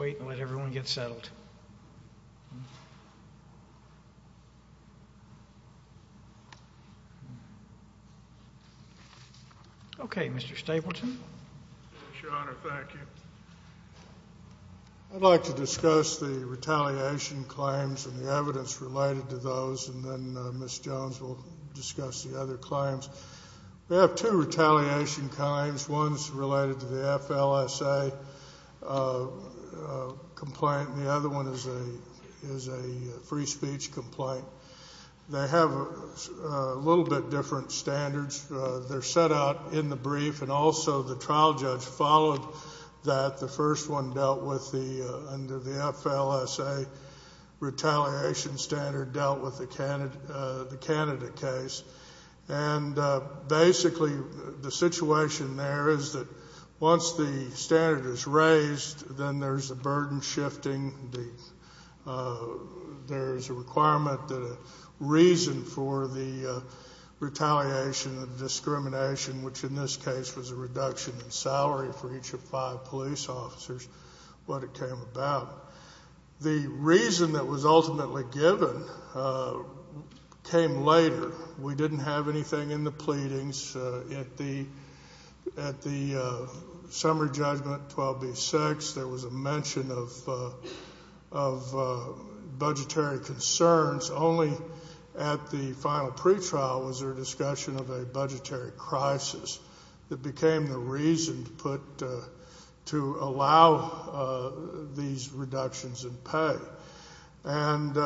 I'd like to discuss the retaliation claims and the evidence related to those, and then Ms. Jones will discuss the other claims. We have two retaliation claims, one's related to the FLSA complaint, and the other one is a free speech complaint. They have a little bit different standards. They're set out in the brief, and also the trial judge followed that. The first one dealt with the, under the FLSA retaliation standard, dealt with the Canada case, and basically the situation there is that once the standard is raised, then there's a burden shifting, there's a requirement that a reason for the retaliation of discrimination, which in this case was a reduction in salary for each of five police officers, what it came about. The reason that was ultimately given came later. We didn't have anything in the pleadings. At the summary judgment, 12B6, there was a mention of budgetary concerns. Only at the final pretrial was there a discussion of a budgetary crisis that became a reason to put, to allow these reductions in pay. And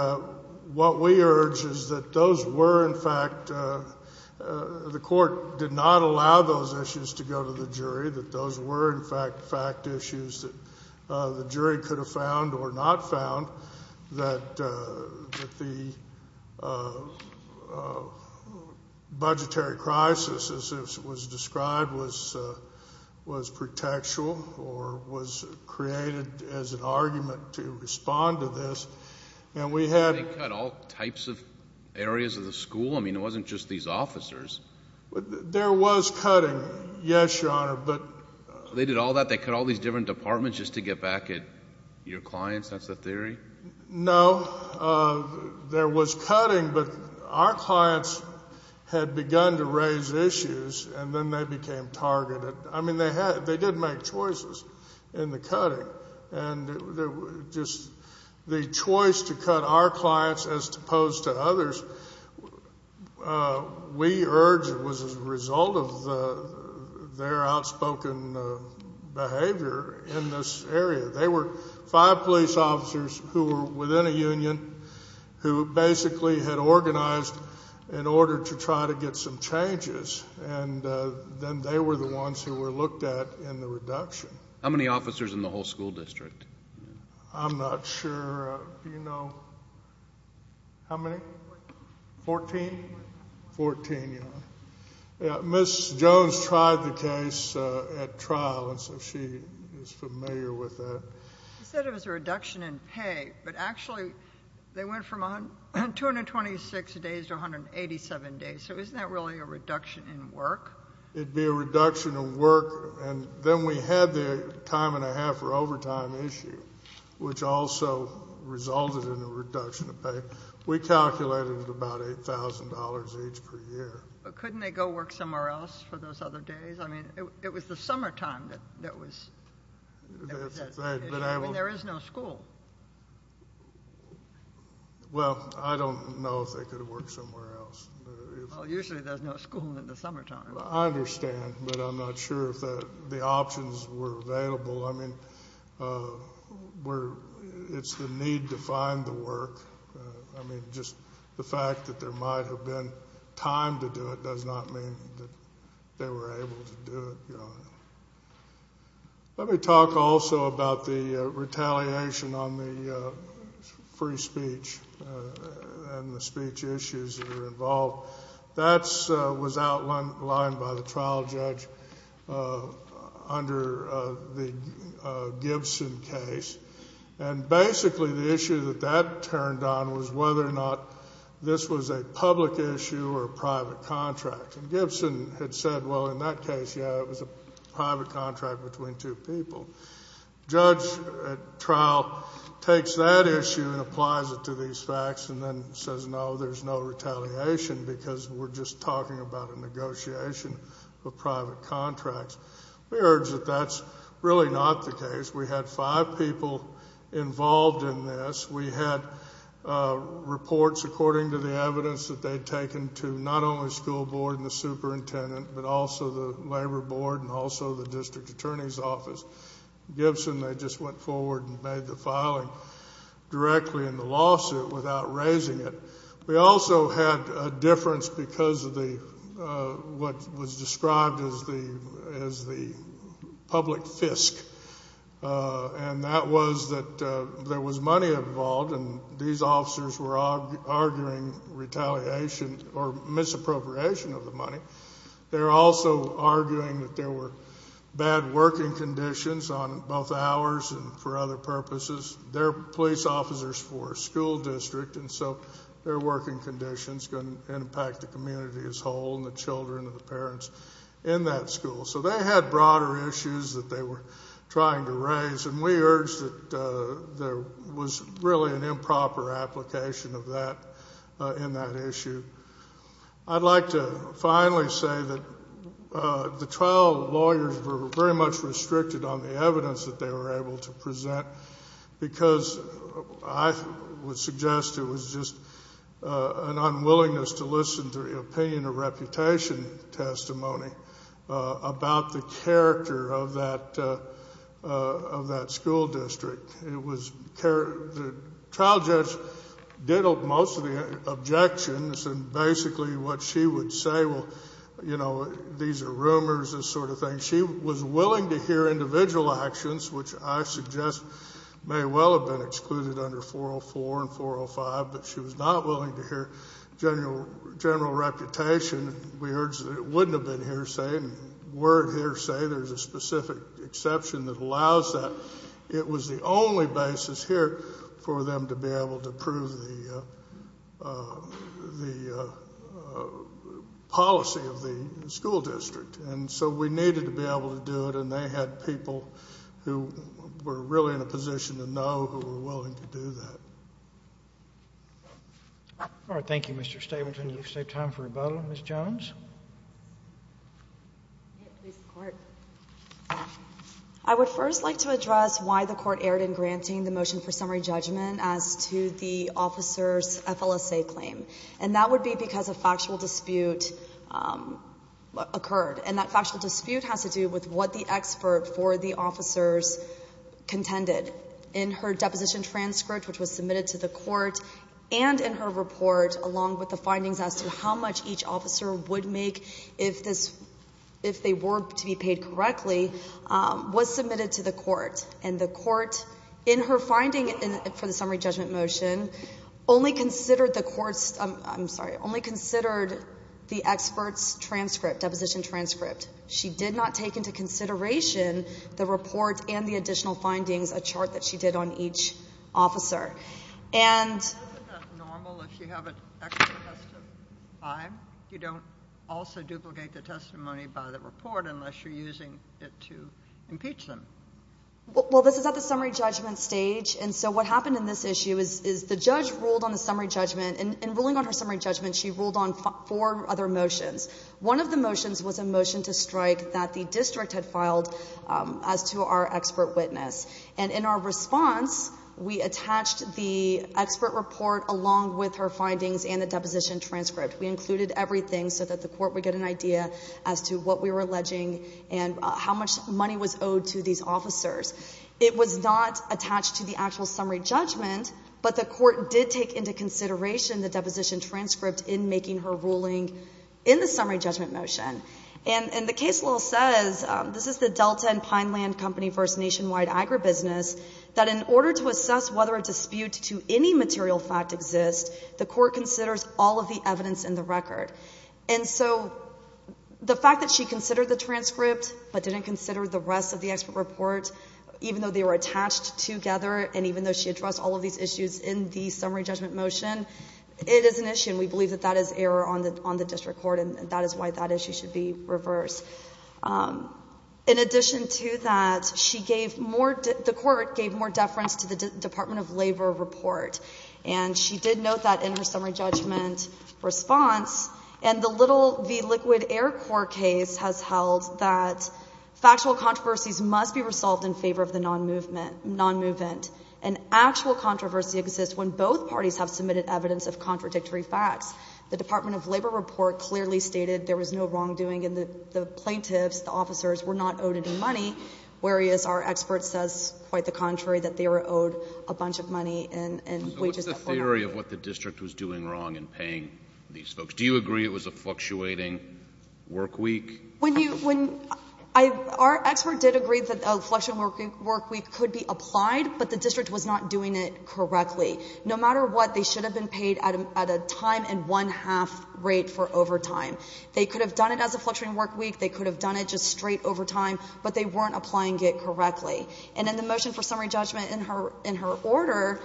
what we urge is that those were in fact, the court did not allow those issues to go to the jury, that those were in fact fact issues that the jury could have found or not found, that the budgetary crisis as was described was, was pretextual or was created as an argument to respond to this. And we had... They cut all types of areas of the school? I mean, it wasn't just these officers. There was cutting, yes, Your Honor, but... They did all that? They cut all these different departments just to get back at your clients? That's the theory? No. There was cutting, but our clients had begun to raise issues, and then they became targeted. I mean, they did make choices in the cutting. And just the choice to cut our clients as opposed to others, we urge it was a result of their outspoken behavior in this case, who were within a union, who basically had organized in order to try to get some changes. And then they were the ones who were looked at in the reduction. How many officers in the whole school district? I'm not sure. Do you know how many? Fourteen. Fourteen? Fourteen. Fourteen, Your Honor. Ms. Jones tried the case at trial, and so she is familiar with that. You said it was a reduction in pay, but actually they went from 226 days to 187 days. So isn't that really a reduction in work? It would be a reduction in work, and then we had the time and a half for overtime issue, which also resulted in a reduction of pay. We calculated about $8,000 each per year. But couldn't they go work somewhere else for those other days? I mean, it was the summertime that there was that issue, and there is no school. Well, I don't know if they could have worked somewhere else. Well, usually there's no school in the summertime. I understand, but I'm not sure if the options were available. I mean, it's the need to find the work. I mean, just the fact that there might have been time to do it does not mean that they were able to do it, Your Honor. Let me talk also about the retaliation on the free speech and the speech issues that are involved. That was outlined by the trial judge under the Gibson case. And basically the issue that that turned on was whether or not this was a public issue or a private contract. And Gibson had said, well, in that case, yeah, it was a private contract between two people. Judge at trial takes that issue and applies it to these facts and then says, no, there's no retaliation because we're just talking about a negotiation of private contracts. We urge that that's really not the case. We had five people involved in this. We had reports according to the evidence that they'd taken to not only school board and the superintendent, but also the labor board and also the district attorney's office. Gibson, they just went forward and made the filing directly in the lawsuit without raising it. We also had a difference because of what was described as the public fisk. And that was that there was money involved and these officers were arguing retaliation or misappropriation of the money. They were also arguing that there were bad working conditions on both ours and for other purposes. They're police officers for a school district and so their working conditions can impact the community as a whole and the children and the parents in that school. So they had broader issues that they were trying to raise. And we urged that there was really an improper application of that in that issue. I'd like to finally say that the trial lawyers were very much restricted on the evidence that they were able to present because I would suggest it was just an unwillingness to listen to the opinion or reputation testimony about the character of that school district. The trial judge did most of the objections and basically what she would say, well, you know, these are rumors, this sort of thing. She was willing to hear individual actions, which I suggest may well have been excluded under 404 and 405, but she was not willing to hear general reputation. We urged that it wouldn't have been hearsay. And word hearsay, there's a specific exception that allows that. But it was the only basis here for them to be able to prove the policy of the school district. And so we needed to be able to do it and they had people who were really in a position to know who were willing to do that. All right, thank you, Mr. Stapleton. You've saved time for rebuttal. Ms. Jones? I would first like to address why the court erred in granting the motion for summary judgment as to the officer's FLSA claim. And that would be because a factual dispute occurred. And that factual dispute has to do with what the expert for the officers contended. In her deposition transcript, which was submitted to the court, and in her report, along with the findings as to how much each officer would make if they were to be paid correctly, was submitted to the court. And the court, in her finding for the summary judgment motion, only considered the experts' transcript, deposition transcript. She did not take into consideration the report and the additional findings, a chart that she did on each officer. Isn't that normal if you have an extra test of time? You don't also duplicate the testimony by the report unless you're using it to impeach them. Well, this is at the summary judgment stage. And so what happened in this issue is the judge ruled on the summary judgment. In ruling on her summary judgment, she ruled on four other motions. One of the motions was a motion to strike that the district had filed as to our expert witness. And in our response, we attached the expert report along with her findings and the deposition transcript. We included everything so that the court would get an idea as to what we were alleging and how much money was owed to these officers. It was not attached to the actual summary judgment, but the court did take into consideration the deposition transcript in making her ruling in the summary judgment motion. And the case law says, this is the Delta and Pineland Company v. Nationwide Agribusiness, that in order to assess whether a dispute to any material fact exists, the court considers all of the evidence in the record. And so the fact that she considered the transcript but didn't consider the rest of the expert report, even though they were attached together and even though she addressed all of these issues in the summary judgment motion, it is an issue and we believe that that is error on the district court and that is why that issue should be reversed. In addition to that, she gave more, the court gave more deference to the Department of Labor report and she did note that in her summary judgment response and the Little v. Liquid Air Corps case has held that factual controversies must be resolved in favor of the non-movement. An actual controversy exists when both parties have submitted evidence of contradictory facts. The Department of Labor report clearly stated there was no wrongdoing and the plaintiffs, the officers, were not owed any money, whereas our expert says quite the contrary, that they were owed a bunch of money and wages. So what's the theory of what the district was doing wrong in paying these folks? Do you agree it was a fluctuating work week? When you, when I, our expert did agree that a fluctuating work week could be applied, but the district was not doing it correctly. No matter what, they should have been paid at a time and one-half rate for overtime. They could have done it as a fluctuating work week. They could have done it just straight overtime, but they weren't applying it correctly. And in the motion for summary judgment in her order,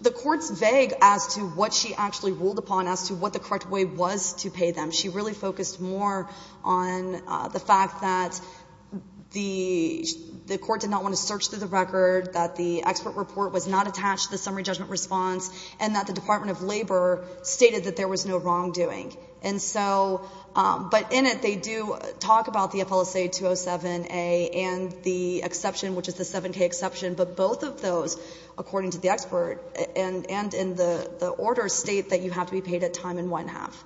the court's vague as to what she actually ruled upon as to what the correct way was to pay them. She really focused more on the fact that the court did not want to search through the record, that the expert report was not attached to the summary judgment response, and that the Department of Labor stated that there was no wrongdoing. And so, but in it, they do talk about the FLSA 207A and the exception, which is the 7K exception, but both of those, according to the expert and in the order, state that you have to be paid at time and one-half.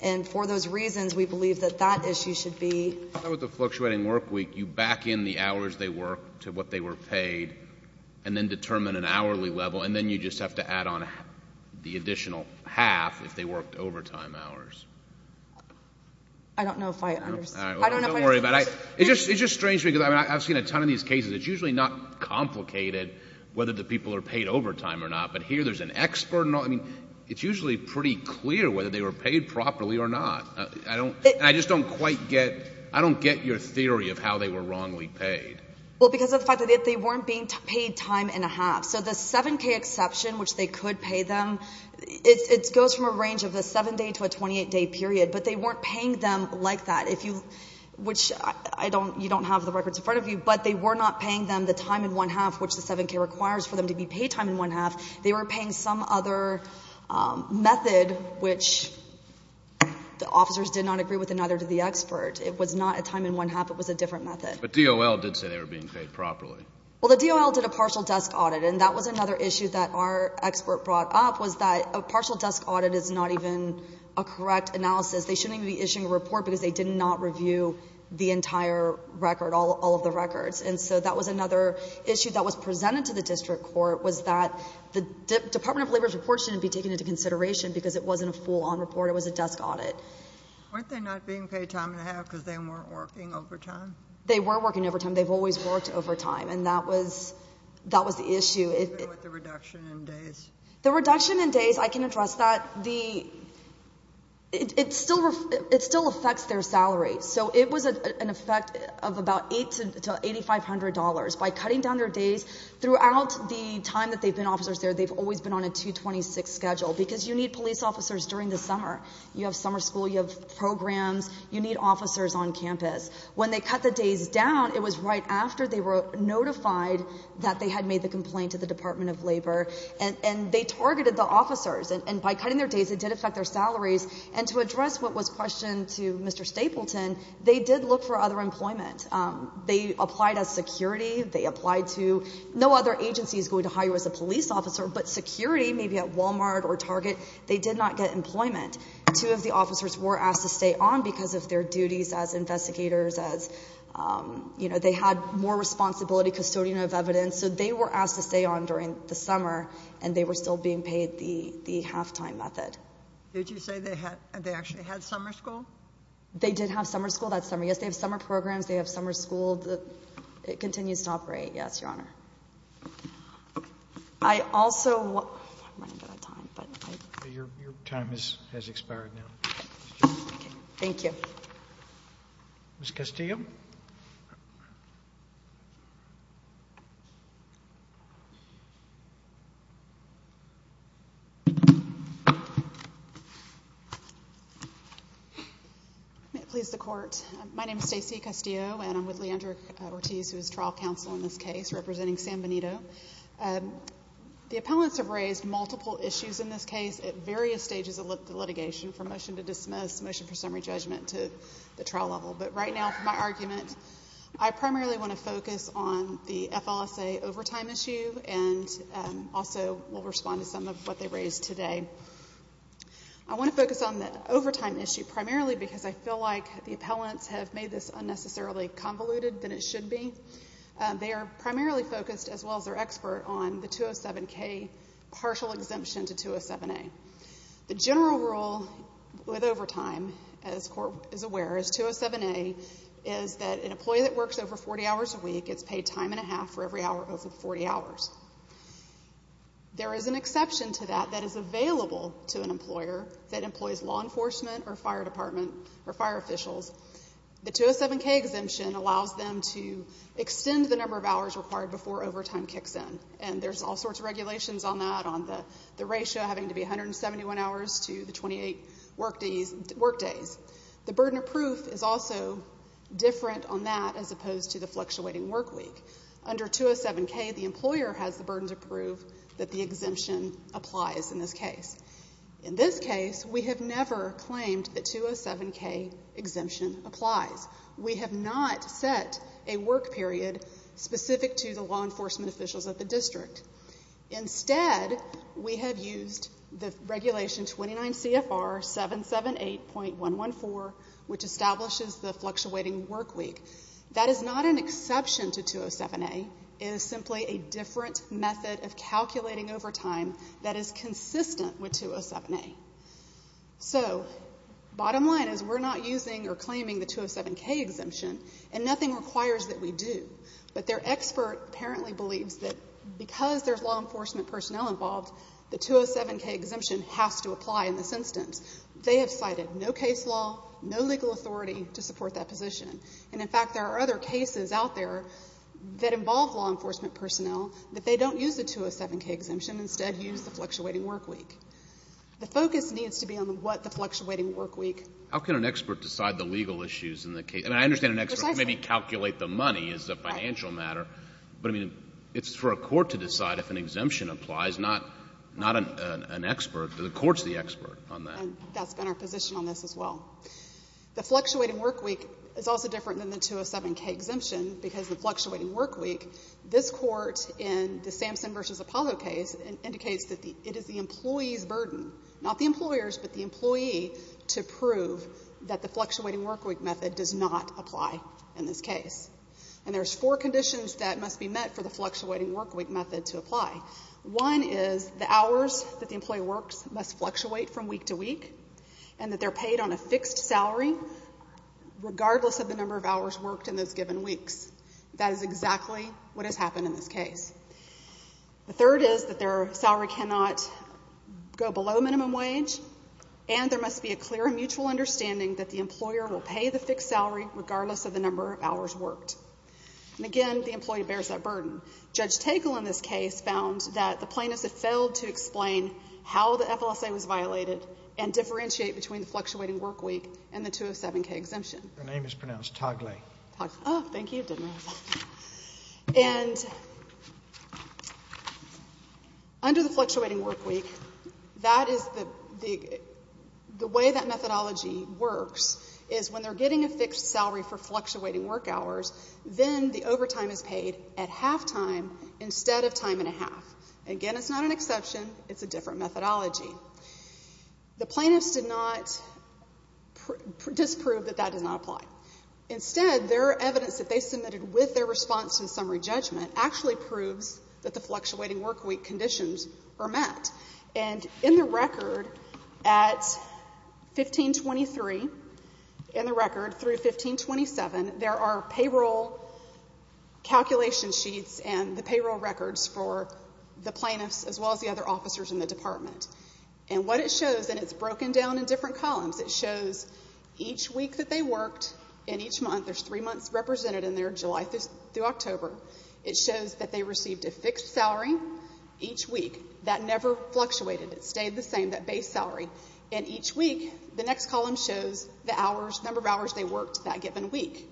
And for those reasons, we believe that that issue should be. With the fluctuating work week, you back in the hours they worked to what they were paid and then determine an hourly level, and then you just have to add on the additional half if they worked overtime hours. I don't know if I understand. Don't worry about it. It's just strange because I've seen a ton of these cases. It's usually not complicated whether the people are paid overtime or not, but here there's an expert. I mean, it's usually pretty clear whether they were paid properly or not. And I just don't quite get, I don't get your theory of how they were wrongly paid. Well, because of the fact that they weren't being paid time and a half. So the 7K exception, which they could pay them, it goes from a range of a 7-day to a 28-day period, but they weren't paying them like that. If you, which I don't, you don't have the records in front of you, but they were not paying them the time and one-half, which the 7K requires for them to be paid time and one-half. They were paying some other method, which the officers did not agree with another to the expert. It was not a time and one-half. It was a different method. But DOL did say they were being paid properly. Well, the DOL did a partial desk audit, and that was another issue that our expert brought up, was that a partial desk audit is not even a correct analysis. They shouldn't even be issuing a report because they did not review the entire record, all of the records. And so that was another issue that was presented to the district court was that the Department of Labor's report shouldn't be taken into consideration because it wasn't a full-on report. It was a desk audit. Weren't they not being paid time and a half because they weren't working overtime? They were working overtime. They've always worked overtime, and that was the issue. Even with the reduction in days? The reduction in days, I can address that. It still affects their salaries. So it was an effect of about $8,000 to $8,500. By cutting down their days, throughout the time that they've been officers there, they've always been on a 2-26 schedule because you need police officers during the summer. You have summer school. You have programs. You need officers on campus. When they cut the days down, it was right after they were notified that they had made the complaint to the Department of Labor, and they targeted the officers. And by cutting their days, it did affect their salaries. And to address what was questioned to Mr. Stapleton, they did look for other employment. They applied as security. They applied to... No other agency is going to hire you as a police officer, but security, maybe at Walmart or Target, they did not get employment. Two of the officers were asked to stay on because of their duties as investigators, as, you know, they had more responsibility, custodian of evidence. So they were asked to stay on during the summer, and they were still being paid the halftime method. Did you say they actually had summer school? They did have summer school that summer, yes. They have summer programs, they have summer school that continues to operate, yes, Your Honor. I also... Your time has expired now. Thank you. Ms. Castillo? Thank you. May it please the court. My name is Stacy Castillo, and I'm with Leandra Ortiz, who is trial counsel in this case, representing San Benito. The appellants have raised multiple issues in this case at various stages of the litigation, from motion to dismiss, motion for summary judgment, to the trial level. But right now, for my argument, I primarily want to focus on the FLSA overtime issue, and also will respond to some of what they raised today. I want to focus on the overtime issue primarily because I feel like the appellants have made this unnecessarily convoluted than it should be. They are primarily focused, as well as their expert, on the 207-K partial exemption to 207-A. The general rule with overtime, as court is aware, is 207-A is that an employee that works over 40 hours a week gets paid time and a half for every hour over 40 hours. There is an exception to that that is available to an employer that employs law enforcement or fire department or fire officials. The 207-K exemption allows them to extend the number of hours required before overtime kicks in, and there's all sorts of regulations on that, on the ratio having to be 171 hours to the 28 work days. The burden of proof is also different on that as opposed to the fluctuating work week. Under 207-K, the employer has the burden to prove that the exemption applies in this case. In this case, we have never claimed that 207-K exemption applies. We have not set a work period specific to the law enforcement officials at the district. Instead, we have used the regulation 29 CFR 778.114, which establishes the fluctuating work week. That is not an exception to 207-A. It is simply a different method of calculating overtime that is consistent with 207-A. So, bottom line is we're not using or claiming the 207-K exemption, and nothing requires that we do. But their expert apparently believes that because there's law enforcement personnel involved, the 207-K exemption has to apply in this instance. They have cited no case law, no legal authority to support that position. And, in fact, there are other cases out there that involve law enforcement personnel that they don't use the 207-K exemption, instead use the fluctuating work week. The focus needs to be on what the fluctuating work week... How can an expert decide the legal issues in the case? And I understand an expert can maybe calculate the money as a financial matter. But, I mean, it's for a court to decide if an exemption applies, not an expert. The court's the expert on that. And that's been our position on this as well. The fluctuating work week is also different than the 207-K exemption because the fluctuating work week, this court in the Samson v. Apollo case indicates that it is the employee's burden, not the employer's, but the employee, to prove that the fluctuating work week method does not apply in this case. And there's four conditions that must be met for the fluctuating work week method to apply. One is the hours that the employee works must fluctuate from week to week and that they're paid on a fixed salary regardless of the number of hours worked in those given weeks. That is exactly what has happened in this case. The third is that their salary cannot go below minimum wage and there must be a clear and mutual understanding that the employer will pay the fixed salary regardless of the number of hours worked. And again, the employee bears that burden. Judge Tegel in this case found that the plaintiffs had failed to explain how the FLSA was violated and differentiate between the fluctuating work week and the 207-K exemption. Your name is pronounced Togley. Oh, thank you. And... under the fluctuating work week, that is the... the way that methodology works is when they're getting a fixed salary for fluctuating work hours, then the overtime is paid at halftime instead of time and a half. Again, it's not an exception. It's a different methodology. The plaintiffs did not... disprove that that does not apply. Instead, their evidence that they submitted with their response to the summary judgment actually proves that the fluctuating work week conditions are met. And in the record, at 1523, in the record, through 1527, there are payroll calculation sheets and the payroll records for the plaintiffs as well as the other officers in the department. And what it shows, and it's broken down in different columns, it shows each week that they worked and each month, there's three months represented in there, July through October. It shows that they received a fixed salary each week that never fluctuated. It stayed the same, that base salary. And each week, the next column shows the hours, number of hours they worked that given week.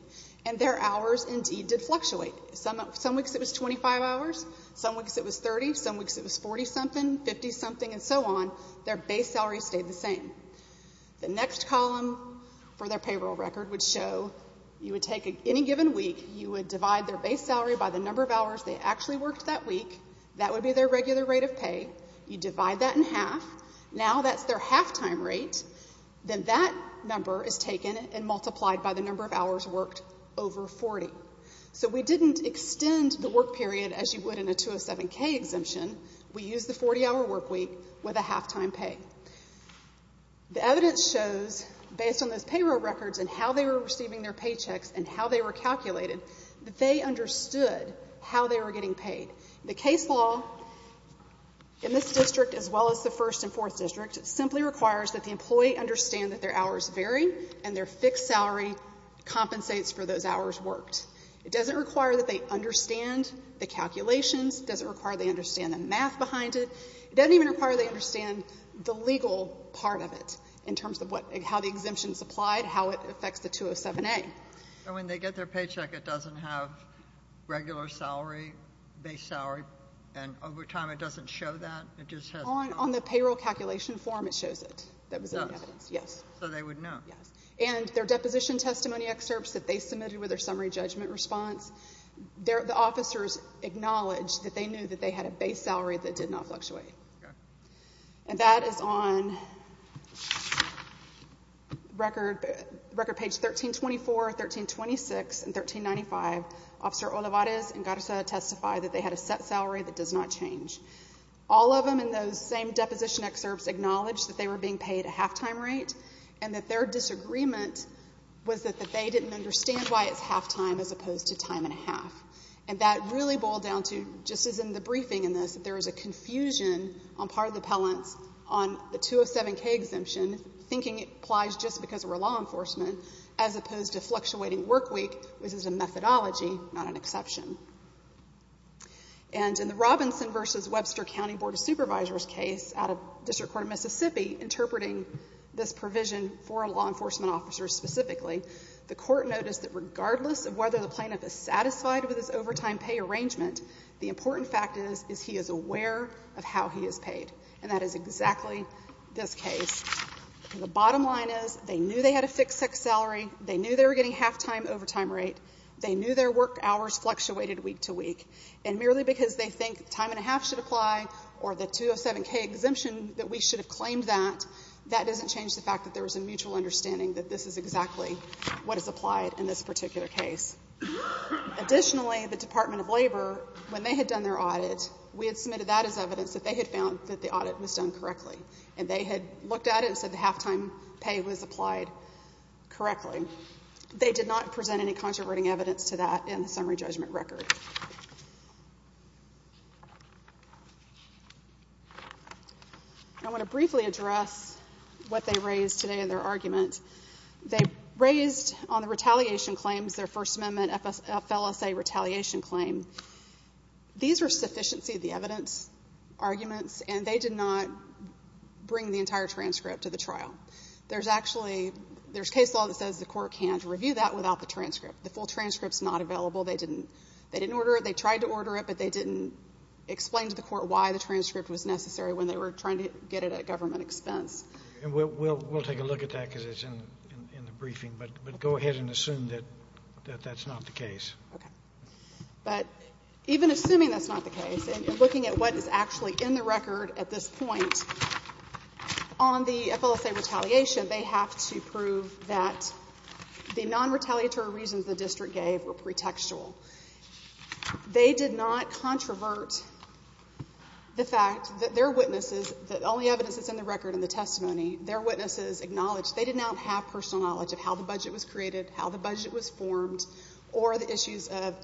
And their hours indeed did fluctuate. Some weeks, it was 25 hours. Some weeks, it was 30. Some weeks, it was 40-something, 50-something, and so on. Their base salary stayed the same. The next column for their payroll record would show you would take any given week, you would divide their base salary by the number of hours they actually worked that week. That would be their regular rate of pay. You divide that in half. Now that's their half-time rate. Then that number is taken and multiplied by the number of hours worked over 40. So we didn't extend the work period as you would in a 207K exemption. We used the 40-hour work week with a half-time pay. The evidence shows based on those payroll records and how they were receiving their paychecks and how they were getting paid. The case law in this district, as well as the First and Fourth District, simply requires that the employee understand that their hours vary and their fixed salary compensates for those hours worked. It doesn't require that they understand the calculations. It doesn't require they understand the math behind it. It doesn't even require they understand the legal part of it in terms of how the exemption is applied, how it affects the 207A. And when they get their paycheck, it doesn't have regular salary, base salary, and over time it doesn't show that? On the payroll calculation form it shows it. So they would know. And their deposition testimony excerpts that they submitted with their summary judgment response, the officers acknowledged that they knew that they had a base salary that did not fluctuate. And that is on record page 1324, 1326, and 1395 Officer Olivares and Garza testified that they had a set salary that does not change. All of them in those same deposition excerpts acknowledged that they were being paid a half-time rate and that their disagreement was that they didn't understand why it's half-time as opposed to time and a half. And that really boiled down to just as in the briefing in this, that there was a confusion on part of the appellants on the 207K exemption thinking it applies just because we're law enforcement as opposed to fluctuating work week, which is a methodology not an exception. And in the Robinson v. Webster County Board of Supervisors case out of District Court of Mississippi interpreting this provision for law enforcement officers specifically the court noticed that regardless of whether the plaintiff is satisfied with his overtime pay arrangement, the important fact is, is he is aware of how he is paid. And that is exactly this case. The bottom line is, they knew they had a fixed-sex salary. They knew they were getting half-time overtime rate. They knew their work hours fluctuated week to week. And merely because they think time and a half should apply or the 207K exemption that we should have claimed that, that doesn't change the fact that there was a mutual understanding that this is exactly what is applied in this particular case. Additionally, the Department of Labor, when they had done their audit, we had submitted that as evidence that they had found that the audit was done correctly. And they had looked at it and said the half-time pay was applied correctly. They did not present any controverting evidence to that in the summary judgment record. I want to briefly address what they raised today in their argument. They raised on the retaliation claims, their First Amendment FLSA retaliation claim. These were sufficiency of the evidence arguments and they did not bring the entire transcript to the trial. There's actually, there's case law that says the court can't review that without the transcript. The full transcript is not available. They didn't order it. They tried to order it but they didn't explain to the court why the transcript was necessary when they were trying to get it at government expense. We'll take a look at that because it's in the briefing. But go ahead and assume that that's not the case. Even assuming that's not the case and looking at what is actually in the record at this point on the FLSA retaliation they have to prove that the non-retaliatory reasons the district gave were pretextual. They did not controvert the fact that their witnesses the only evidence that's in the record in the testimony their witnesses acknowledged they did not have personal knowledge of how the budget was created how the budget was formed or the issues of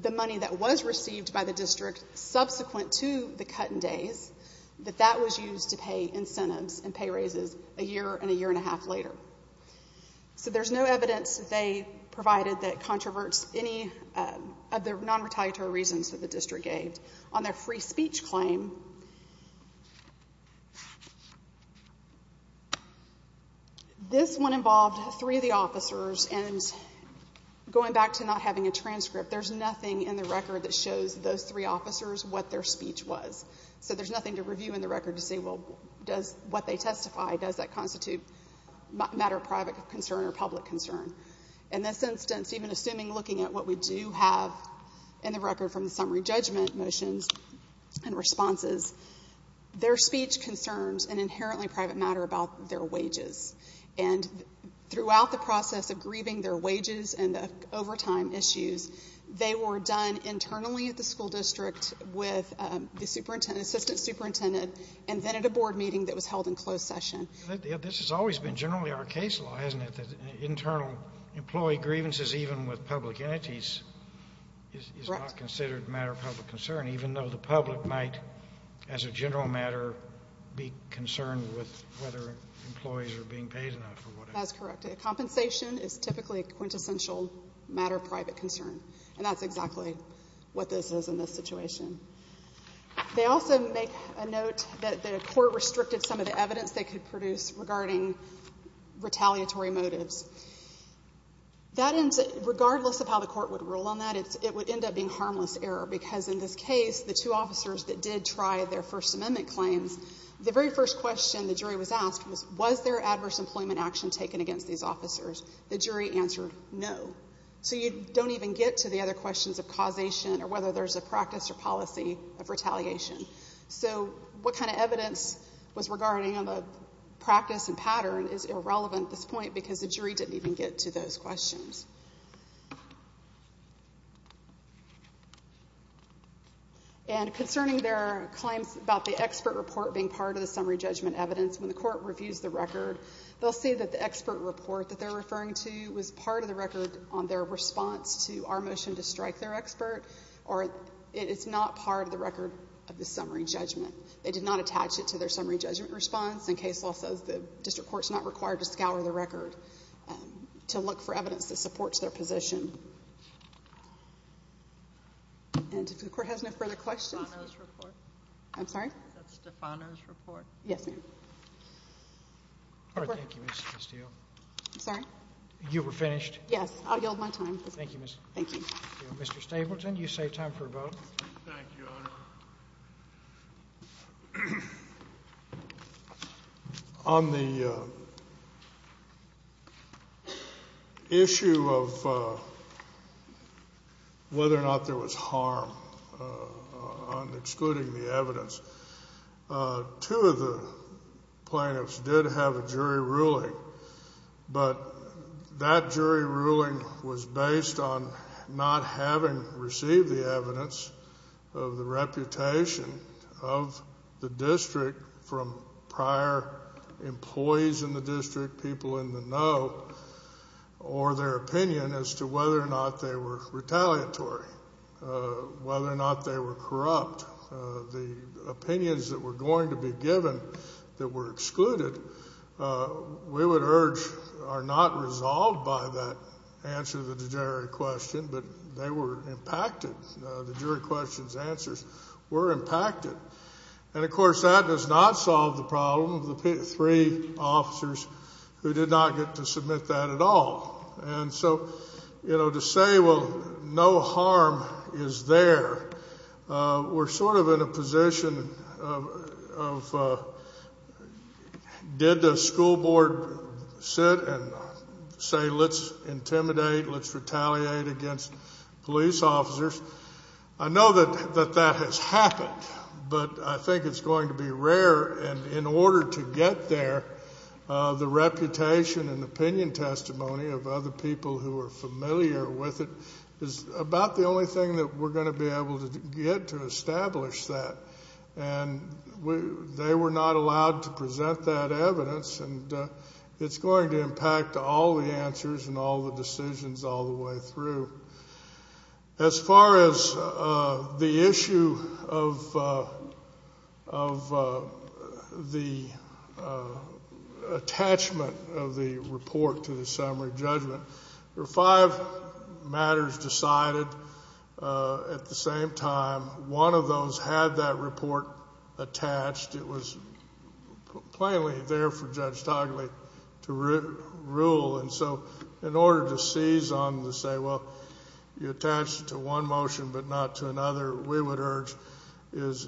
the money that was received by the district subsequent to the cut in days that that was used to pay incentives and pay raises a year and a year and a half later. So there's no evidence they provided that controverts any of the non-retaliatory reasons that the district gave on their free speech claim. This one involved three of the officers and going back to not having a transcript, there's nothing in the record that shows those three officers what their speech was. So there's nothing to review in the record to say what they testify, does that constitute a matter of private concern or public concern. In this instance even assuming looking at what we do have in the record from the summary judgment their speech concerns an inherently private matter about their wages. Throughout the process of grieving their wages and the overtime issues, they were done internally at the school district with the assistant superintendent and then at a board meeting that was held in closed session. This has always been generally our case law internal employee grievances even with public entities is not considered a matter of public concern even though the public might as a general matter be concerned with whether employees are being paid enough. That's correct. Compensation is typically a quintessential matter of private concern and that's exactly what this is in this situation. They also make a note that the court restricted some of the evidence they could produce regarding retaliatory motives. That ends regardless of how the court would rule on that it would end up being harmless error because in this case the two officers that did try their First Amendment claims the very first question the jury was asked was, was there adverse employment action taken against these officers? The jury answered no. So you don't even get to the other questions of causation or whether there's a practice or policy of retaliation. So what kind of evidence was regarding on the practice and pattern is irrelevant at this point because the jury didn't even get to those questions. And concerning their claims about the expert report being part of the summary judgment evidence, when the court reviews the record, they'll see that the expert report that they're referring to was part of the record on their response to our motion to strike their expert or it's not part of the record of the summary judgment. They did not attach it to their summary judgment response and case law says the district court's not required to scour the record to look for evidence that supports their position. And if the court has no further questions That's Stefano's report. I'm sorry? That's Stefano's report. Yes, ma'am. Thank you, Ms. Steele. I'm sorry? You were finished? Yes, I'll yield my time. Thank you, Ms. Steele. Mr. Stapleton, you save time for a vote. Thank you, Your Honor. On the issue of whether or not there was harm on excluding the evidence two of the plaintiffs did have a jury ruling, but that jury ruling was based on not having received the evidence of the reputation of the district from prior employees in the district, people in the know, or their opinion as to whether or not they were retaliatory, whether or not they were corrupt. The opinions that were going to be given that were excluded we would urge are not resolved by that answer to the jury question, but they were impacted. The jury question's answers were impacted. And of course that does not solve the problem of the three officers who did not get to submit that at all. And so, you know, to say well, no harm is there, we're sort of in a position of did the school board sit and say let's intimidate, let's retaliate against police officers. I know that that has happened, but I think it's going to be rare and in order to get there the reputation and opinion testimony of other people who are familiar with it is about the only thing that we're going to be able to get to establish that. And they were not allowed to present that evidence and it's going to impact all the answers and all the decisions all the way through. As far as the issue of of the attachment of the report to the summary judgment, there are five matters decided at the same time. One of those had that report attached. It was plainly there for Judge Togliatti to rule. And so in order to seize on the say well you attached it to one motion but not to another, we would urge is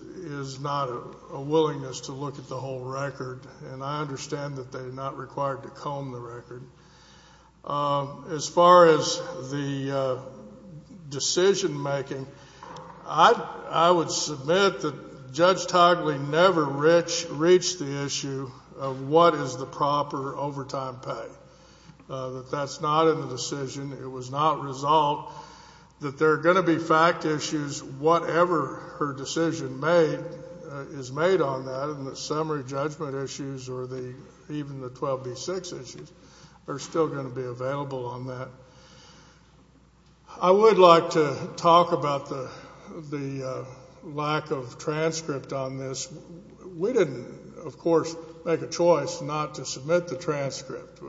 not a reasonable record. And I understand that they're not required to comb the record. As far as the decision making I would submit that Judge Togliatti never reached the issue of what is the proper overtime pay. That that's not in the decision. It was not resolved. That there are going to be fact issues whatever her decision is made on that and the summary judgment issues or even the 12B6 issues are still going to be available on that. I would like to talk about the lack of transcript on this. We didn't of course make a choice not to submit the transcript.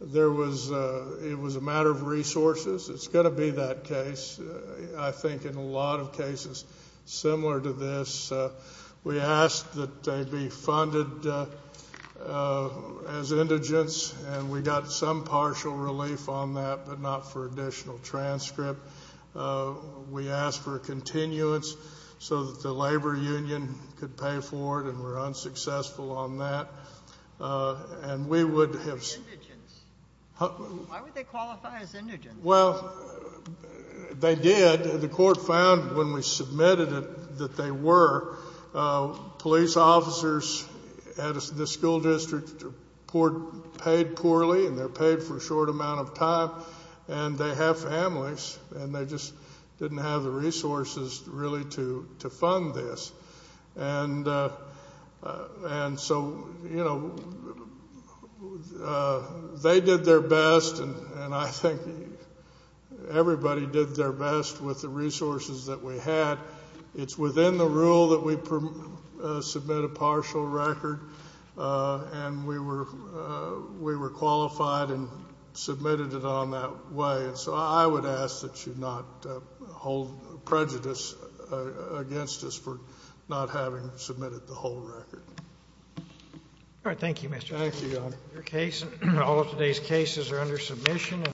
There was it was a matter of resources. It's going to be that case. I think in a lot of cases similar to this we asked that they be funded as indigents and we got some partial relief on that but not for additional transcript. We asked for continuance so that the labor union on that. And we would have... Why would they qualify as indigents? Well they did. The court found when we submitted it that they were police officers at the school district paid poorly and they're paid for a short amount of time and they have families and they just didn't have the resources really to fund this. And so you know they did their best and I think everybody did their best with the resources that we had. It's within the rule that we submit a partial record and we were qualified and submitted it on that way. So I would ask that you not hold prejudice against us for not having submitted the whole record. Thank you Mr. Under submission.